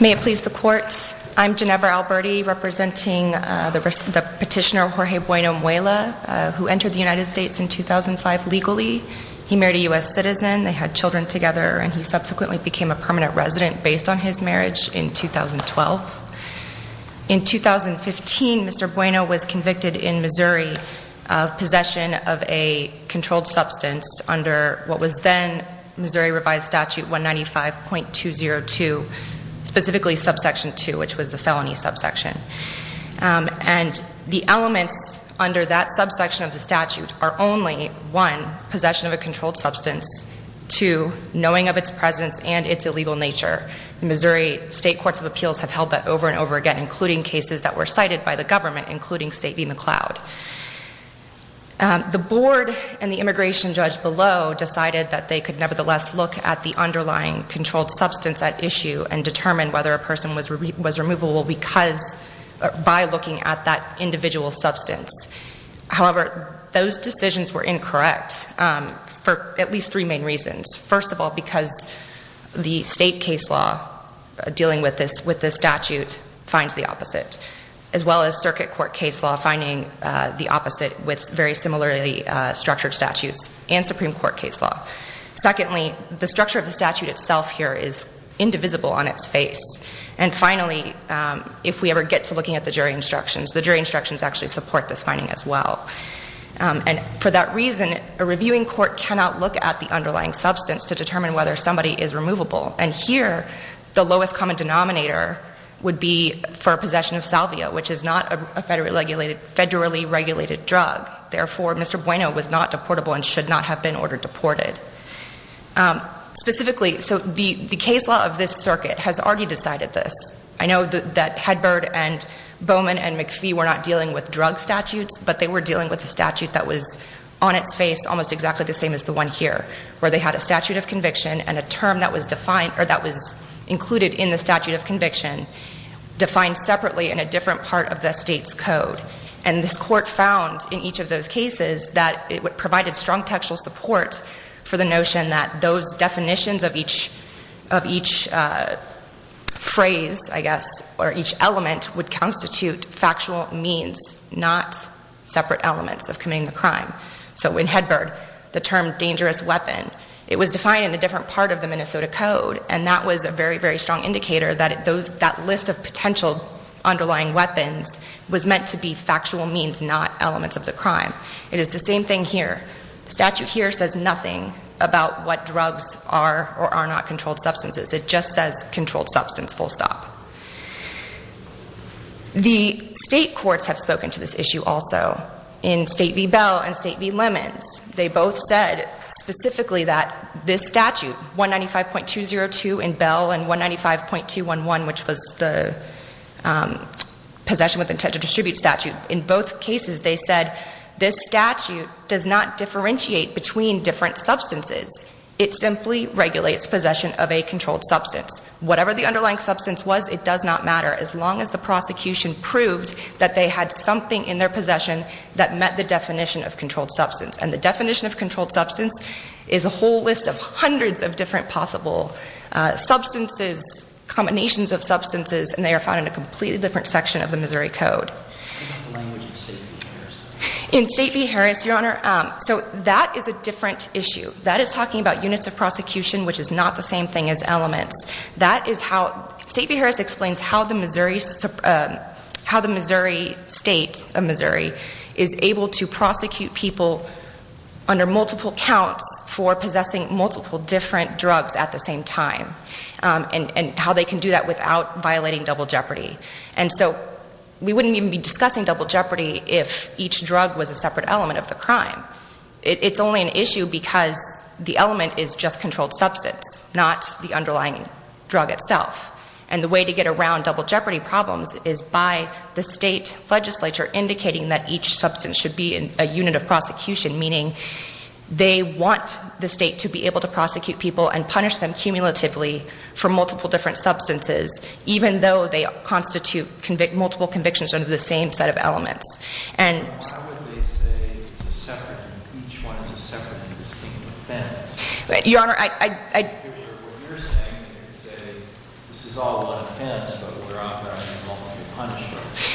May it please the Court, I'm Ginevra Alberti, representing the petitioner Jorge Bueno-Muela, who entered the United States in 2005 legally. He married a U.S. citizen, they had children together, and he subsequently became a permanent resident based on his marriage in 2012. In 2015, Mr. Bueno was convicted in Missouri of possession of a controlled substance under what was then Missouri Revised Statute 195.202, specifically Subsection 2, which was the felony subsection. And the elements under that subsection of the statute are only, one, possession of a controlled substance, two, knowing of its presence and its illegal nature. In Missouri, state courts of appeals have held that over and over again, including cases that were cited by the government, including State v. McLeod. The board and the immigration judge below decided that they could nevertheless look at the underlying controlled substance at issue and determine whether a person was removable because, by looking at that individual substance. However, those decisions were incorrect for at least three main reasons. First of all, because the state case law dealing with this statute finds the opposite, as well as circuit court case law finding the opposite with very similarly structured statutes and Supreme Court case law. Secondly, the structure of the statute itself here is indivisible on its face. And finally, if we ever get to looking at the jury instructions, the jury instructions actually support this finding as well. And for that reason, a reviewing court cannot look at the underlying substance to determine whether somebody is removable. And here, the lowest common denominator would be for possession of salvia, which is not a federally regulated drug. Therefore, Mr. Bueno was not deportable and should not have been ordered deported. Specifically, so the case law of this circuit has already decided this. I know that Hedberd and Bowman and McPhee were not dealing with drug statutes, but they were dealing with a statute that was on its face almost exactly the same as the one here, where they had a statute of conviction and a term that was defined or that was included in the statute of conviction, defined separately in a different part of the state's code. And this court found in each of those cases that it provided strong textual support for the notion that those definitions of each of each phrase, I guess, or each element would constitute factual means, not separate elements of committing the crime. So in Hedberd, the term dangerous weapon, it was defined in a different part of the Minnesota code, and that was a very, very strong indicator that that list of potential underlying weapons was meant to be factual means, not elements of the crime. It is the same thing here. The statute here says nothing about what drugs are or are not controlled substances. It just says controlled substance full stop. The state courts have spoken to this issue also in State v. Bell and State v. Lemons. They both said specifically that this statute, 195.202 in Bell and 195.211, which was the possession with intent to distribute statute, in both cases they said this statute does not differentiate between different substances. It simply regulates possession of a controlled substance. Whatever the underlying substance was, it does not matter, as long as the prosecution proved that they had something in their possession that met the definition of controlled substance. And the definition of controlled substance is a whole list of hundreds of different possible substances, combinations of substances, and they are found in a completely different section of the Missouri Code. What about the language in State v. Harris? In State v. Harris, Your Honor, so that is a different issue. That is talking about units of prosecution, which is not the same thing as elements. That is how State v. Harris explains how the Missouri State of Missouri is able to prosecute people under multiple counts for possessing multiple different drugs at the same time, and how they can do that without violating double jeopardy. And so we wouldn't even be discussing double jeopardy if each was a controlled substance, not the underlying drug itself. And the way to get around double jeopardy problems is by the State legislature indicating that each substance should be a unit of prosecution, meaning they want the State to be able to prosecute people and punish them cumulatively for multiple different substances, even though they constitute multiple convictions under the same set of elements. Why would they say each one is a separate and distinct offense? Your Honor, I If it were what you're saying, you could say this is all one offense, but we're offering multiple punishments.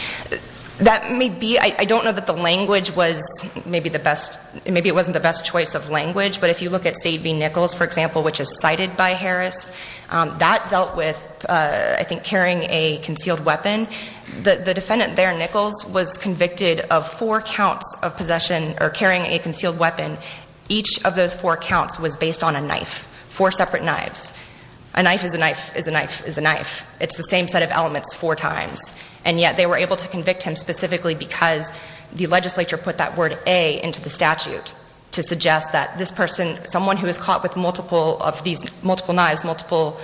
That may be. I don't know that the language was maybe the best, maybe it wasn't the best choice of language. But if you look at State v. Nichols, for example, which is cited by Harris, that dealt with, I think, carrying a concealed weapon. The defendant there, Nichols, was convicted of four counts of possession or carrying a concealed weapon. Each of those four counts was based on a knife, four separate knives. A knife is a knife is a knife is a knife. It's the same set of elements four times. And yet they were able to convict him specifically because the legislature put that word A into the statute to suggest that this person, someone who is caught with multiple of these, multiple knives, multiple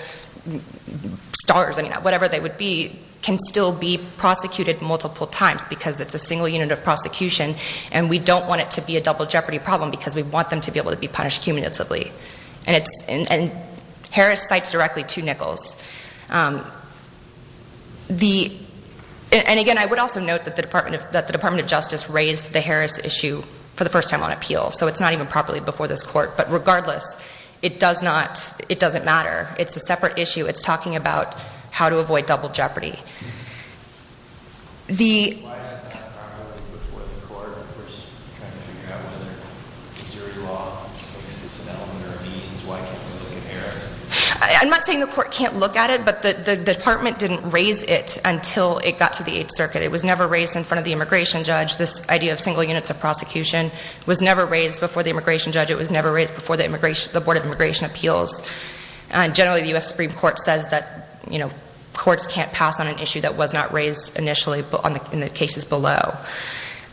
stars, whatever they would be, can still be prosecuted multiple times because it's a single unit of prosecution. And we don't want it to be a double jeopardy problem because we want them to be able to be punished cumulatively. And Harris cites directly to Nichols. And again, I would also note that the Department of Justice raised the Harris issue for the first time on appeal. So it's not even properly before this court. But regardless, it does not, it doesn't matter. It's a separate issue. It's talking about how to avoid double jeopardy. Why is it not properly before the court? We're just trying to figure out whether Missouri law makes this an element or a means. Why can't we look at Harris? I'm not saying the court can't look at it, but the department didn't raise it until it got to the Eighth Circuit. It was never raised in front of the immigration judge. This idea of single units of prosecution was never raised before the immigration judge. It was never raised before the immigration, the Board of Immigration Appeals. And generally the U.S. Supreme Court says that, you know, courts can't pass on an issue that was not raised initially in the cases below.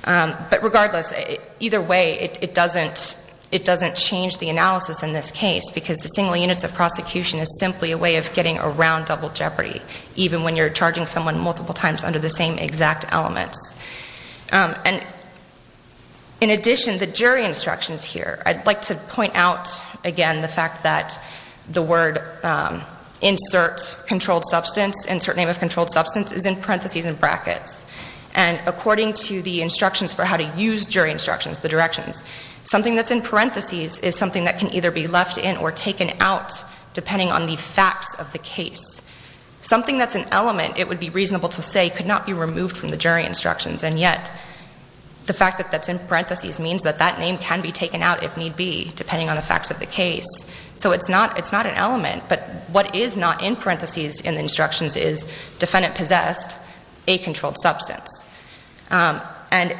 But regardless, either way, it doesn't, it doesn't change the analysis in this case because the single units of prosecution is simply a way of getting around double jeopardy, even when you're charging someone multiple times under the same exact elements. And in addition, the jury instructions here, I'd like to point out again the fact that the word insert controlled substance, insert name of controlled substance is in parentheses and brackets. And according to the instructions for how to use jury instructions, the directions, something that's in parentheses is something that can either be left in or taken out depending on the facts of the case. Something that's an element, it would be reasonable to say, could not be removed from the jury instructions. And yet the fact that that's in parentheses means that that name can be taken out if need be, depending on the facts of the case. So it's not, it's not an element, but what is not in parentheses in the instructions is defendant possessed, a controlled substance. And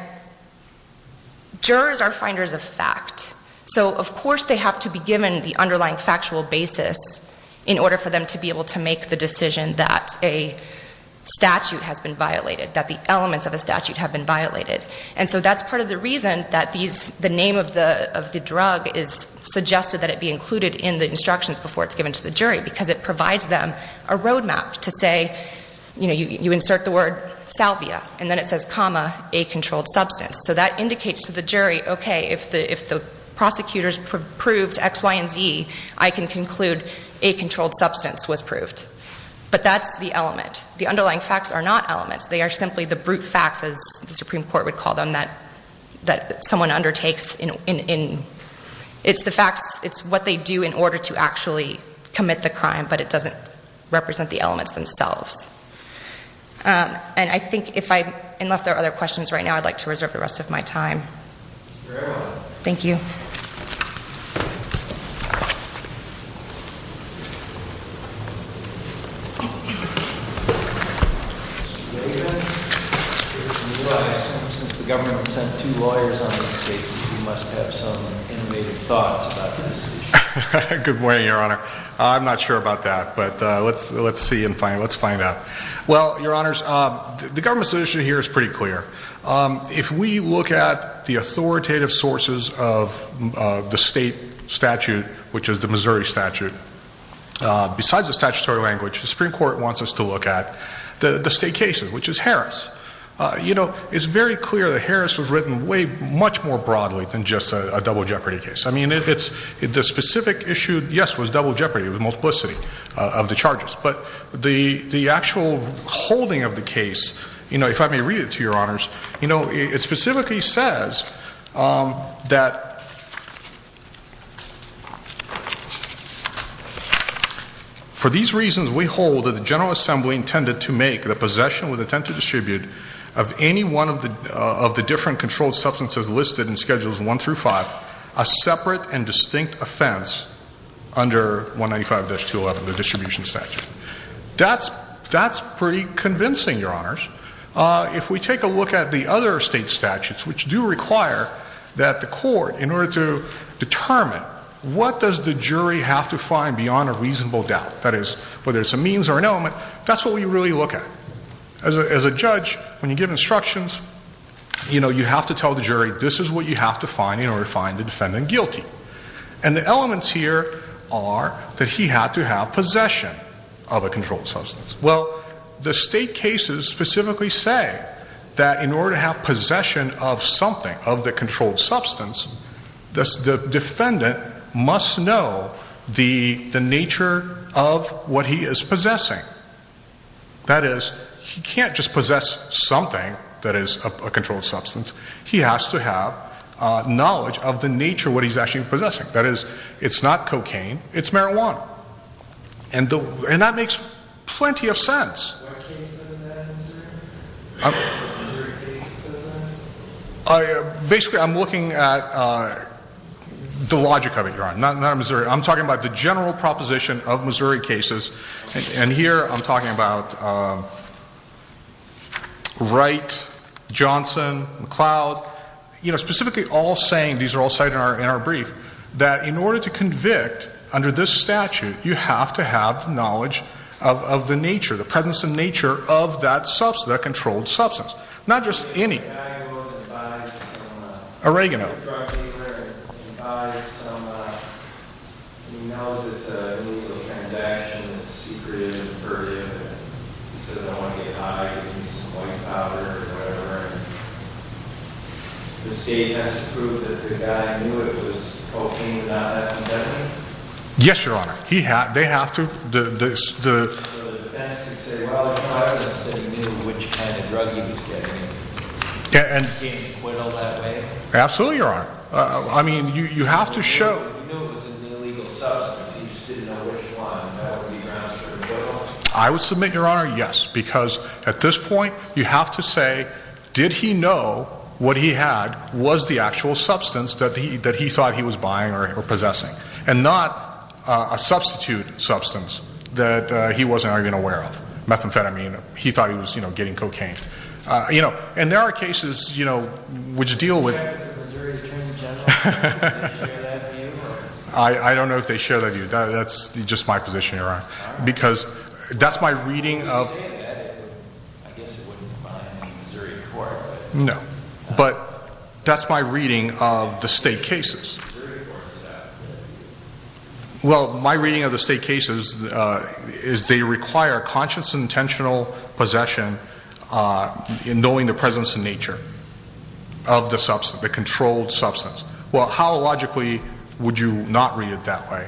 jurors are finders of fact. So of course they have to be given the underlying factual basis in order for them to be able to make the decision that a statute has been violated, that the elements of a statute have been violated. And so that's part of the reason that these, the name of the, of the drug is suggested that it be included in the instructions before it's given to the jury, because it provides them a roadmap to say, you know, you, you insert the word salvia and then it says comma a controlled substance. So that indicates to the jury, okay, if the, if the prosecutors proved X, Y, and Z, I can conclude a controlled substance was proved. But that's the element. The underlying facts are not elements. They are simply the brute facts as the Supreme Court would call them that, that someone undertakes in, in, in it's the facts, it's what they do in order to actually commit the crime, but it doesn't represent the elements themselves. And I think if I, unless there are other questions right now, I'd like to reserve the rest of my time. Thank you. Good morning, Your Honor. I'm not sure about that, but let's, let's see and find, let's find out. Well, Your Honors, the government's position here is pretty clear. If we look at the authoritative sources of the state statute, which is the Missouri statute, besides the statutory language, the Supreme Court wants us to look at the state cases, which is Harris. You know, it's very clear that Harris was written way much more broadly than just a double jeopardy case. I mean, it's, the specific issue, yes, was double jeopardy with multiplicity of the charges, but the, the actual holding of the case, you know, if I may read it to Your Honors, you know, it specifically says that, for these reasons we hold that the General Assembly intended to make the possession with intent to distribute of any one of the, of the different controlled substances listed in Schedules 1 through 5 a separate and distinct offense under 195-211, the distribution statute. That's, that's pretty convincing, Your Honors. If we take a look at the other state statutes, which do require that the court, in order to determine what does the jury have to find beyond a reasonable doubt, that is, whether it's a means or an element, that's what we really look at. As a, as a judge, when you give instructions, you know, you have to tell the jury this is what you have to find in order to find the defendant guilty. And the elements here are that he had to have possession of a controlled substance. Well, the state cases specifically say that in order to have possession of something, of the controlled substance, the defendant must know the, the nature of what he is possessing. That is, he can't just possess something that is a, a controlled substance. He has to have knowledge of the nature of what he's actually possessing. That is, it's not cocaine, it's marijuana. And the, and that makes plenty of sense. What case does that answer? What jury case says that? Basically, I'm looking at the logic of it, Your Honor. Not, not Missouri. I'm talking about the general proposition of Missouri cases. And, and here I'm talking about Wright, Johnson, McLeod, you know, specifically all saying, these are all cited in our, in our brief, that in order to convict under this statute, you have to have knowledge of, of the nature, the presence and nature of that substance, that controlled substance. Not just any. The guy goes and buys some, Oregano. drug dealer and he buys some, he knows it's a illegal transaction, it's secretive and perverted. He says, I don't want to get high, I'm going to use some white powder or whatever. The state has to prove that the guy knew it was cocaine without that condemnation? Yes, Your Honor. He had, they have to, the, the, the, the defense could say, well, the substance that he knew which kind of drug he was getting and he came to quit all that way? Absolutely, Your Honor. I mean, you, you have to show. He knew it was an illegal substance, he just didn't know which one. I would submit, Your Honor, yes. Because at this point, you have to say, did he know what he had was the actual substance that he, that he thought he was buying or, or possessing? And not a substitute substance that he wasn't even aware of. Methamphetamine. He thought he was, you know, getting cocaine. You know, and there are cases, you know, which deal with. The Missouri Attorney General, do they share that view? I don't know if they share that view. That's just my position, Your Honor. Because that's my reading of. If you say that, I guess it wouldn't apply in Missouri court. No. But that's my reading of the state cases. Well, my reading of the state cases is they require conscious and intentional possession in knowing the presence and nature of the substance, the controlled substance. Well, how logically would you not read it that way?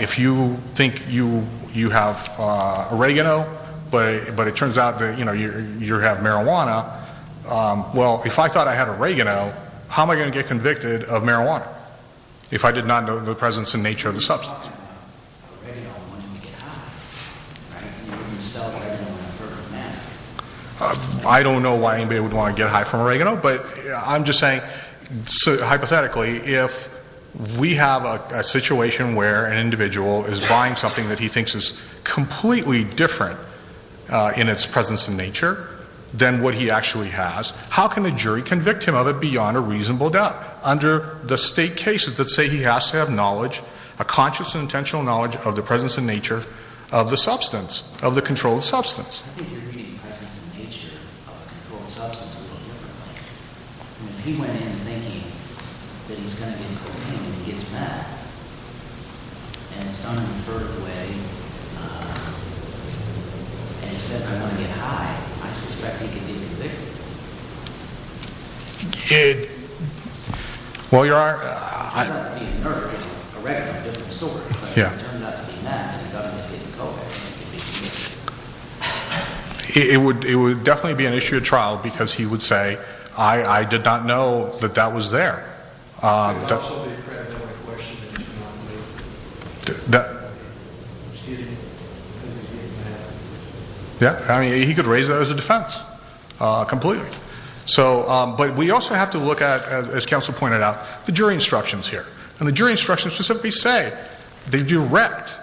If you think you, you have oregano, but it turns out that, you know, you have marijuana, well, if I thought I had oregano, how am I going to get convicted of marijuana if I did not know the presence and nature of the substance? You're talking about oregano wanting to get high, right? You would sell oregano for a man. I don't know why anybody would want to get high from oregano, but I'm just saying, hypothetically, if we have a situation where an individual is buying something that he thinks is completely different in its presence and nature than what he actually has, how can the jury convict him of it beyond a reasonable doubt? Under the state cases that say he has to have knowledge, a conscious and intentional knowledge of the presence and nature of the substance, of the controlled substance. I think you're reading presence and nature of the controlled substance a little differently. If he went in thinking that he's going to get cocaine and he gets mad, and it's going to be an issue of trial because he would say, I did not know that that was there. I mean, he could raise that as a defense completely. But we also have to look at, as counsel pointed out, the jury instructions here. And the jury instructions specifically say, they direct,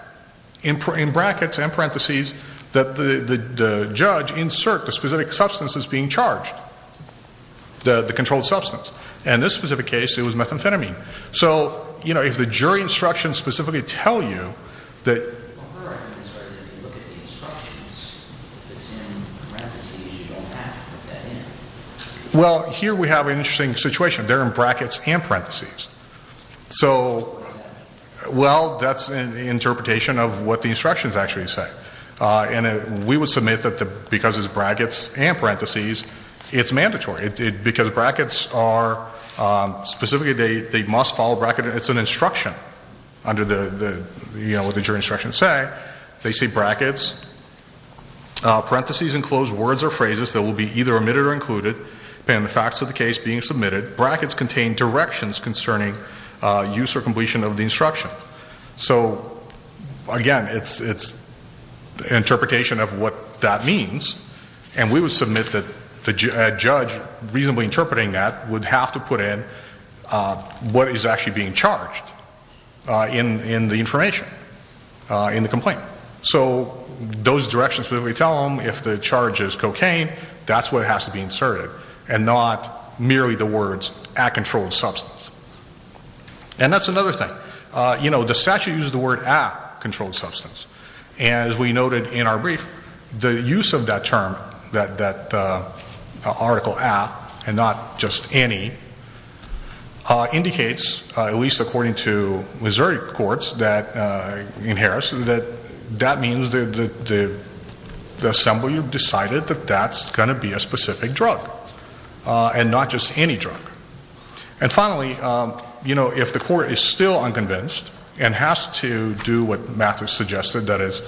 in brackets and parentheses, that the judge insert the specific substance that's being charged, the controlled substance. In this specific case, it was methamphetamine. So, you know, if the jury instructions specifically tell you that... Well, here we have an interesting situation. They're in brackets and parentheses. So, well, that's an interpretation of what the instructions actually say. And we would submit that because it's brackets and parentheses, it's mandatory. Because brackets are... Specifically, they must follow a bracket. It's an instruction under what the jury instructions say. They say, brackets, parentheses enclose words or phrases that will be either omitted or included, depending on the facts of the case being submitted. Brackets contain directions use or completion of the instruction. So, again, it's an interpretation of what that means. And we would submit that a judge reasonably interpreting that would have to put in what is actually being charged in the information, in the complaint. So those directions specifically tell them if the charge is cocaine, that's what has to be inserted, and not merely the And that's another thing. You know, the statute uses the word a controlled substance. And as we noted in our brief, the use of that term, that article a, and not just any, indicates, at least according to Missouri courts in Harris, that that means the assembly decided that that's going to be a specific drug, and not just any drug. And finally, you know, if the court is still unconvinced and has to do what Matthew suggested, that is,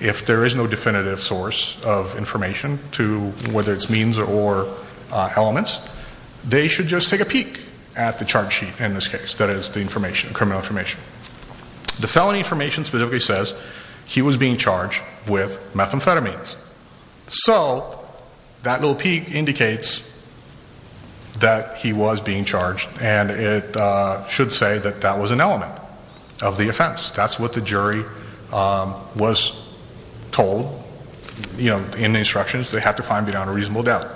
if there is no definitive source of information to whether it's means or elements, they should just take a peek at the charge sheet in this case, that is, the information, criminal information. The felony information specifically says he was being charged with methamphetamines. So, that little peek indicates that he was being charged, and it should say that that was an element of the offense. That's what the jury was told, you know, in the instructions. They had to find beyond a reasonable doubt.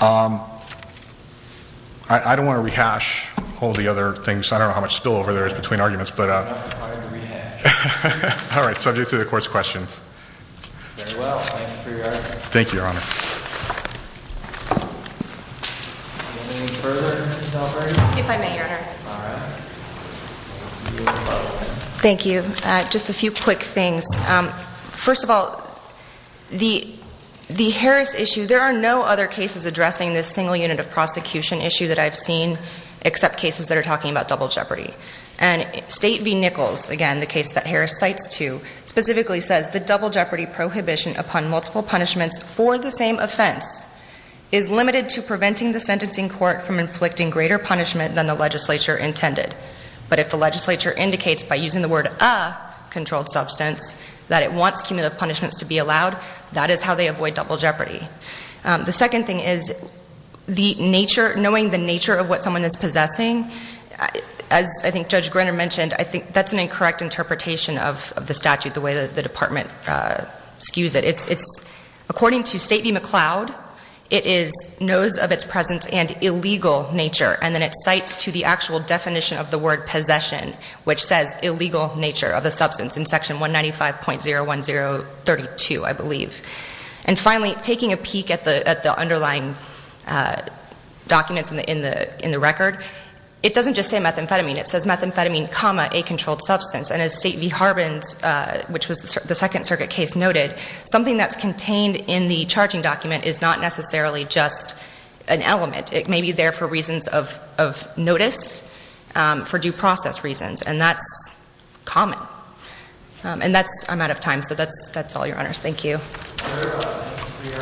I don't want to rehash all the other things. I don't know how much spillover there is between arguments, but. All right. Subject to the court's questions. Thank you, Your Honor. If I may, Your Honor. Thank you. Just a few quick things. First of all, the Harris issue, there are no other cases addressing this single unit of prosecution issue that I've seen, except cases that are talking about double jeopardy. And State v. Nichols, again, the case that Harris cites to, specifically says the double jeopardy prohibition upon multiple punishments for the same offense is limited to preventing the sentencing court from inflicting greater punishment than the legislature intended. But if the legislature indicates, by using the word a controlled substance, that it wants cumulative punishments to be allowed, that is how they avoid double jeopardy. The second thing is, the nature, knowing the nature of what someone is possessing, as I think Judge Greiner mentioned, I think that's an incorrect interpretation of the statute, the way that the department skews it. It's, according to State v. McLeod, it is knows of its presence and illegal nature. And then it cites to the actual definition of the word possession, which says illegal nature of the substance in section 195.01032, I believe. And finally, taking a peek at the documents in the record, it doesn't just say methamphetamine. It says methamphetamine, comma, a controlled substance. And as State v. Harbin's, which was the Second Circuit case, noted, something that's contained in the charging document is not necessarily just an element. It may be there for reasons of notice, for due process reasons. And that's common. And that's, I'm out of time. So that's all, Your Honors. Thank you. Thank you, Your Honors. Case is submitted.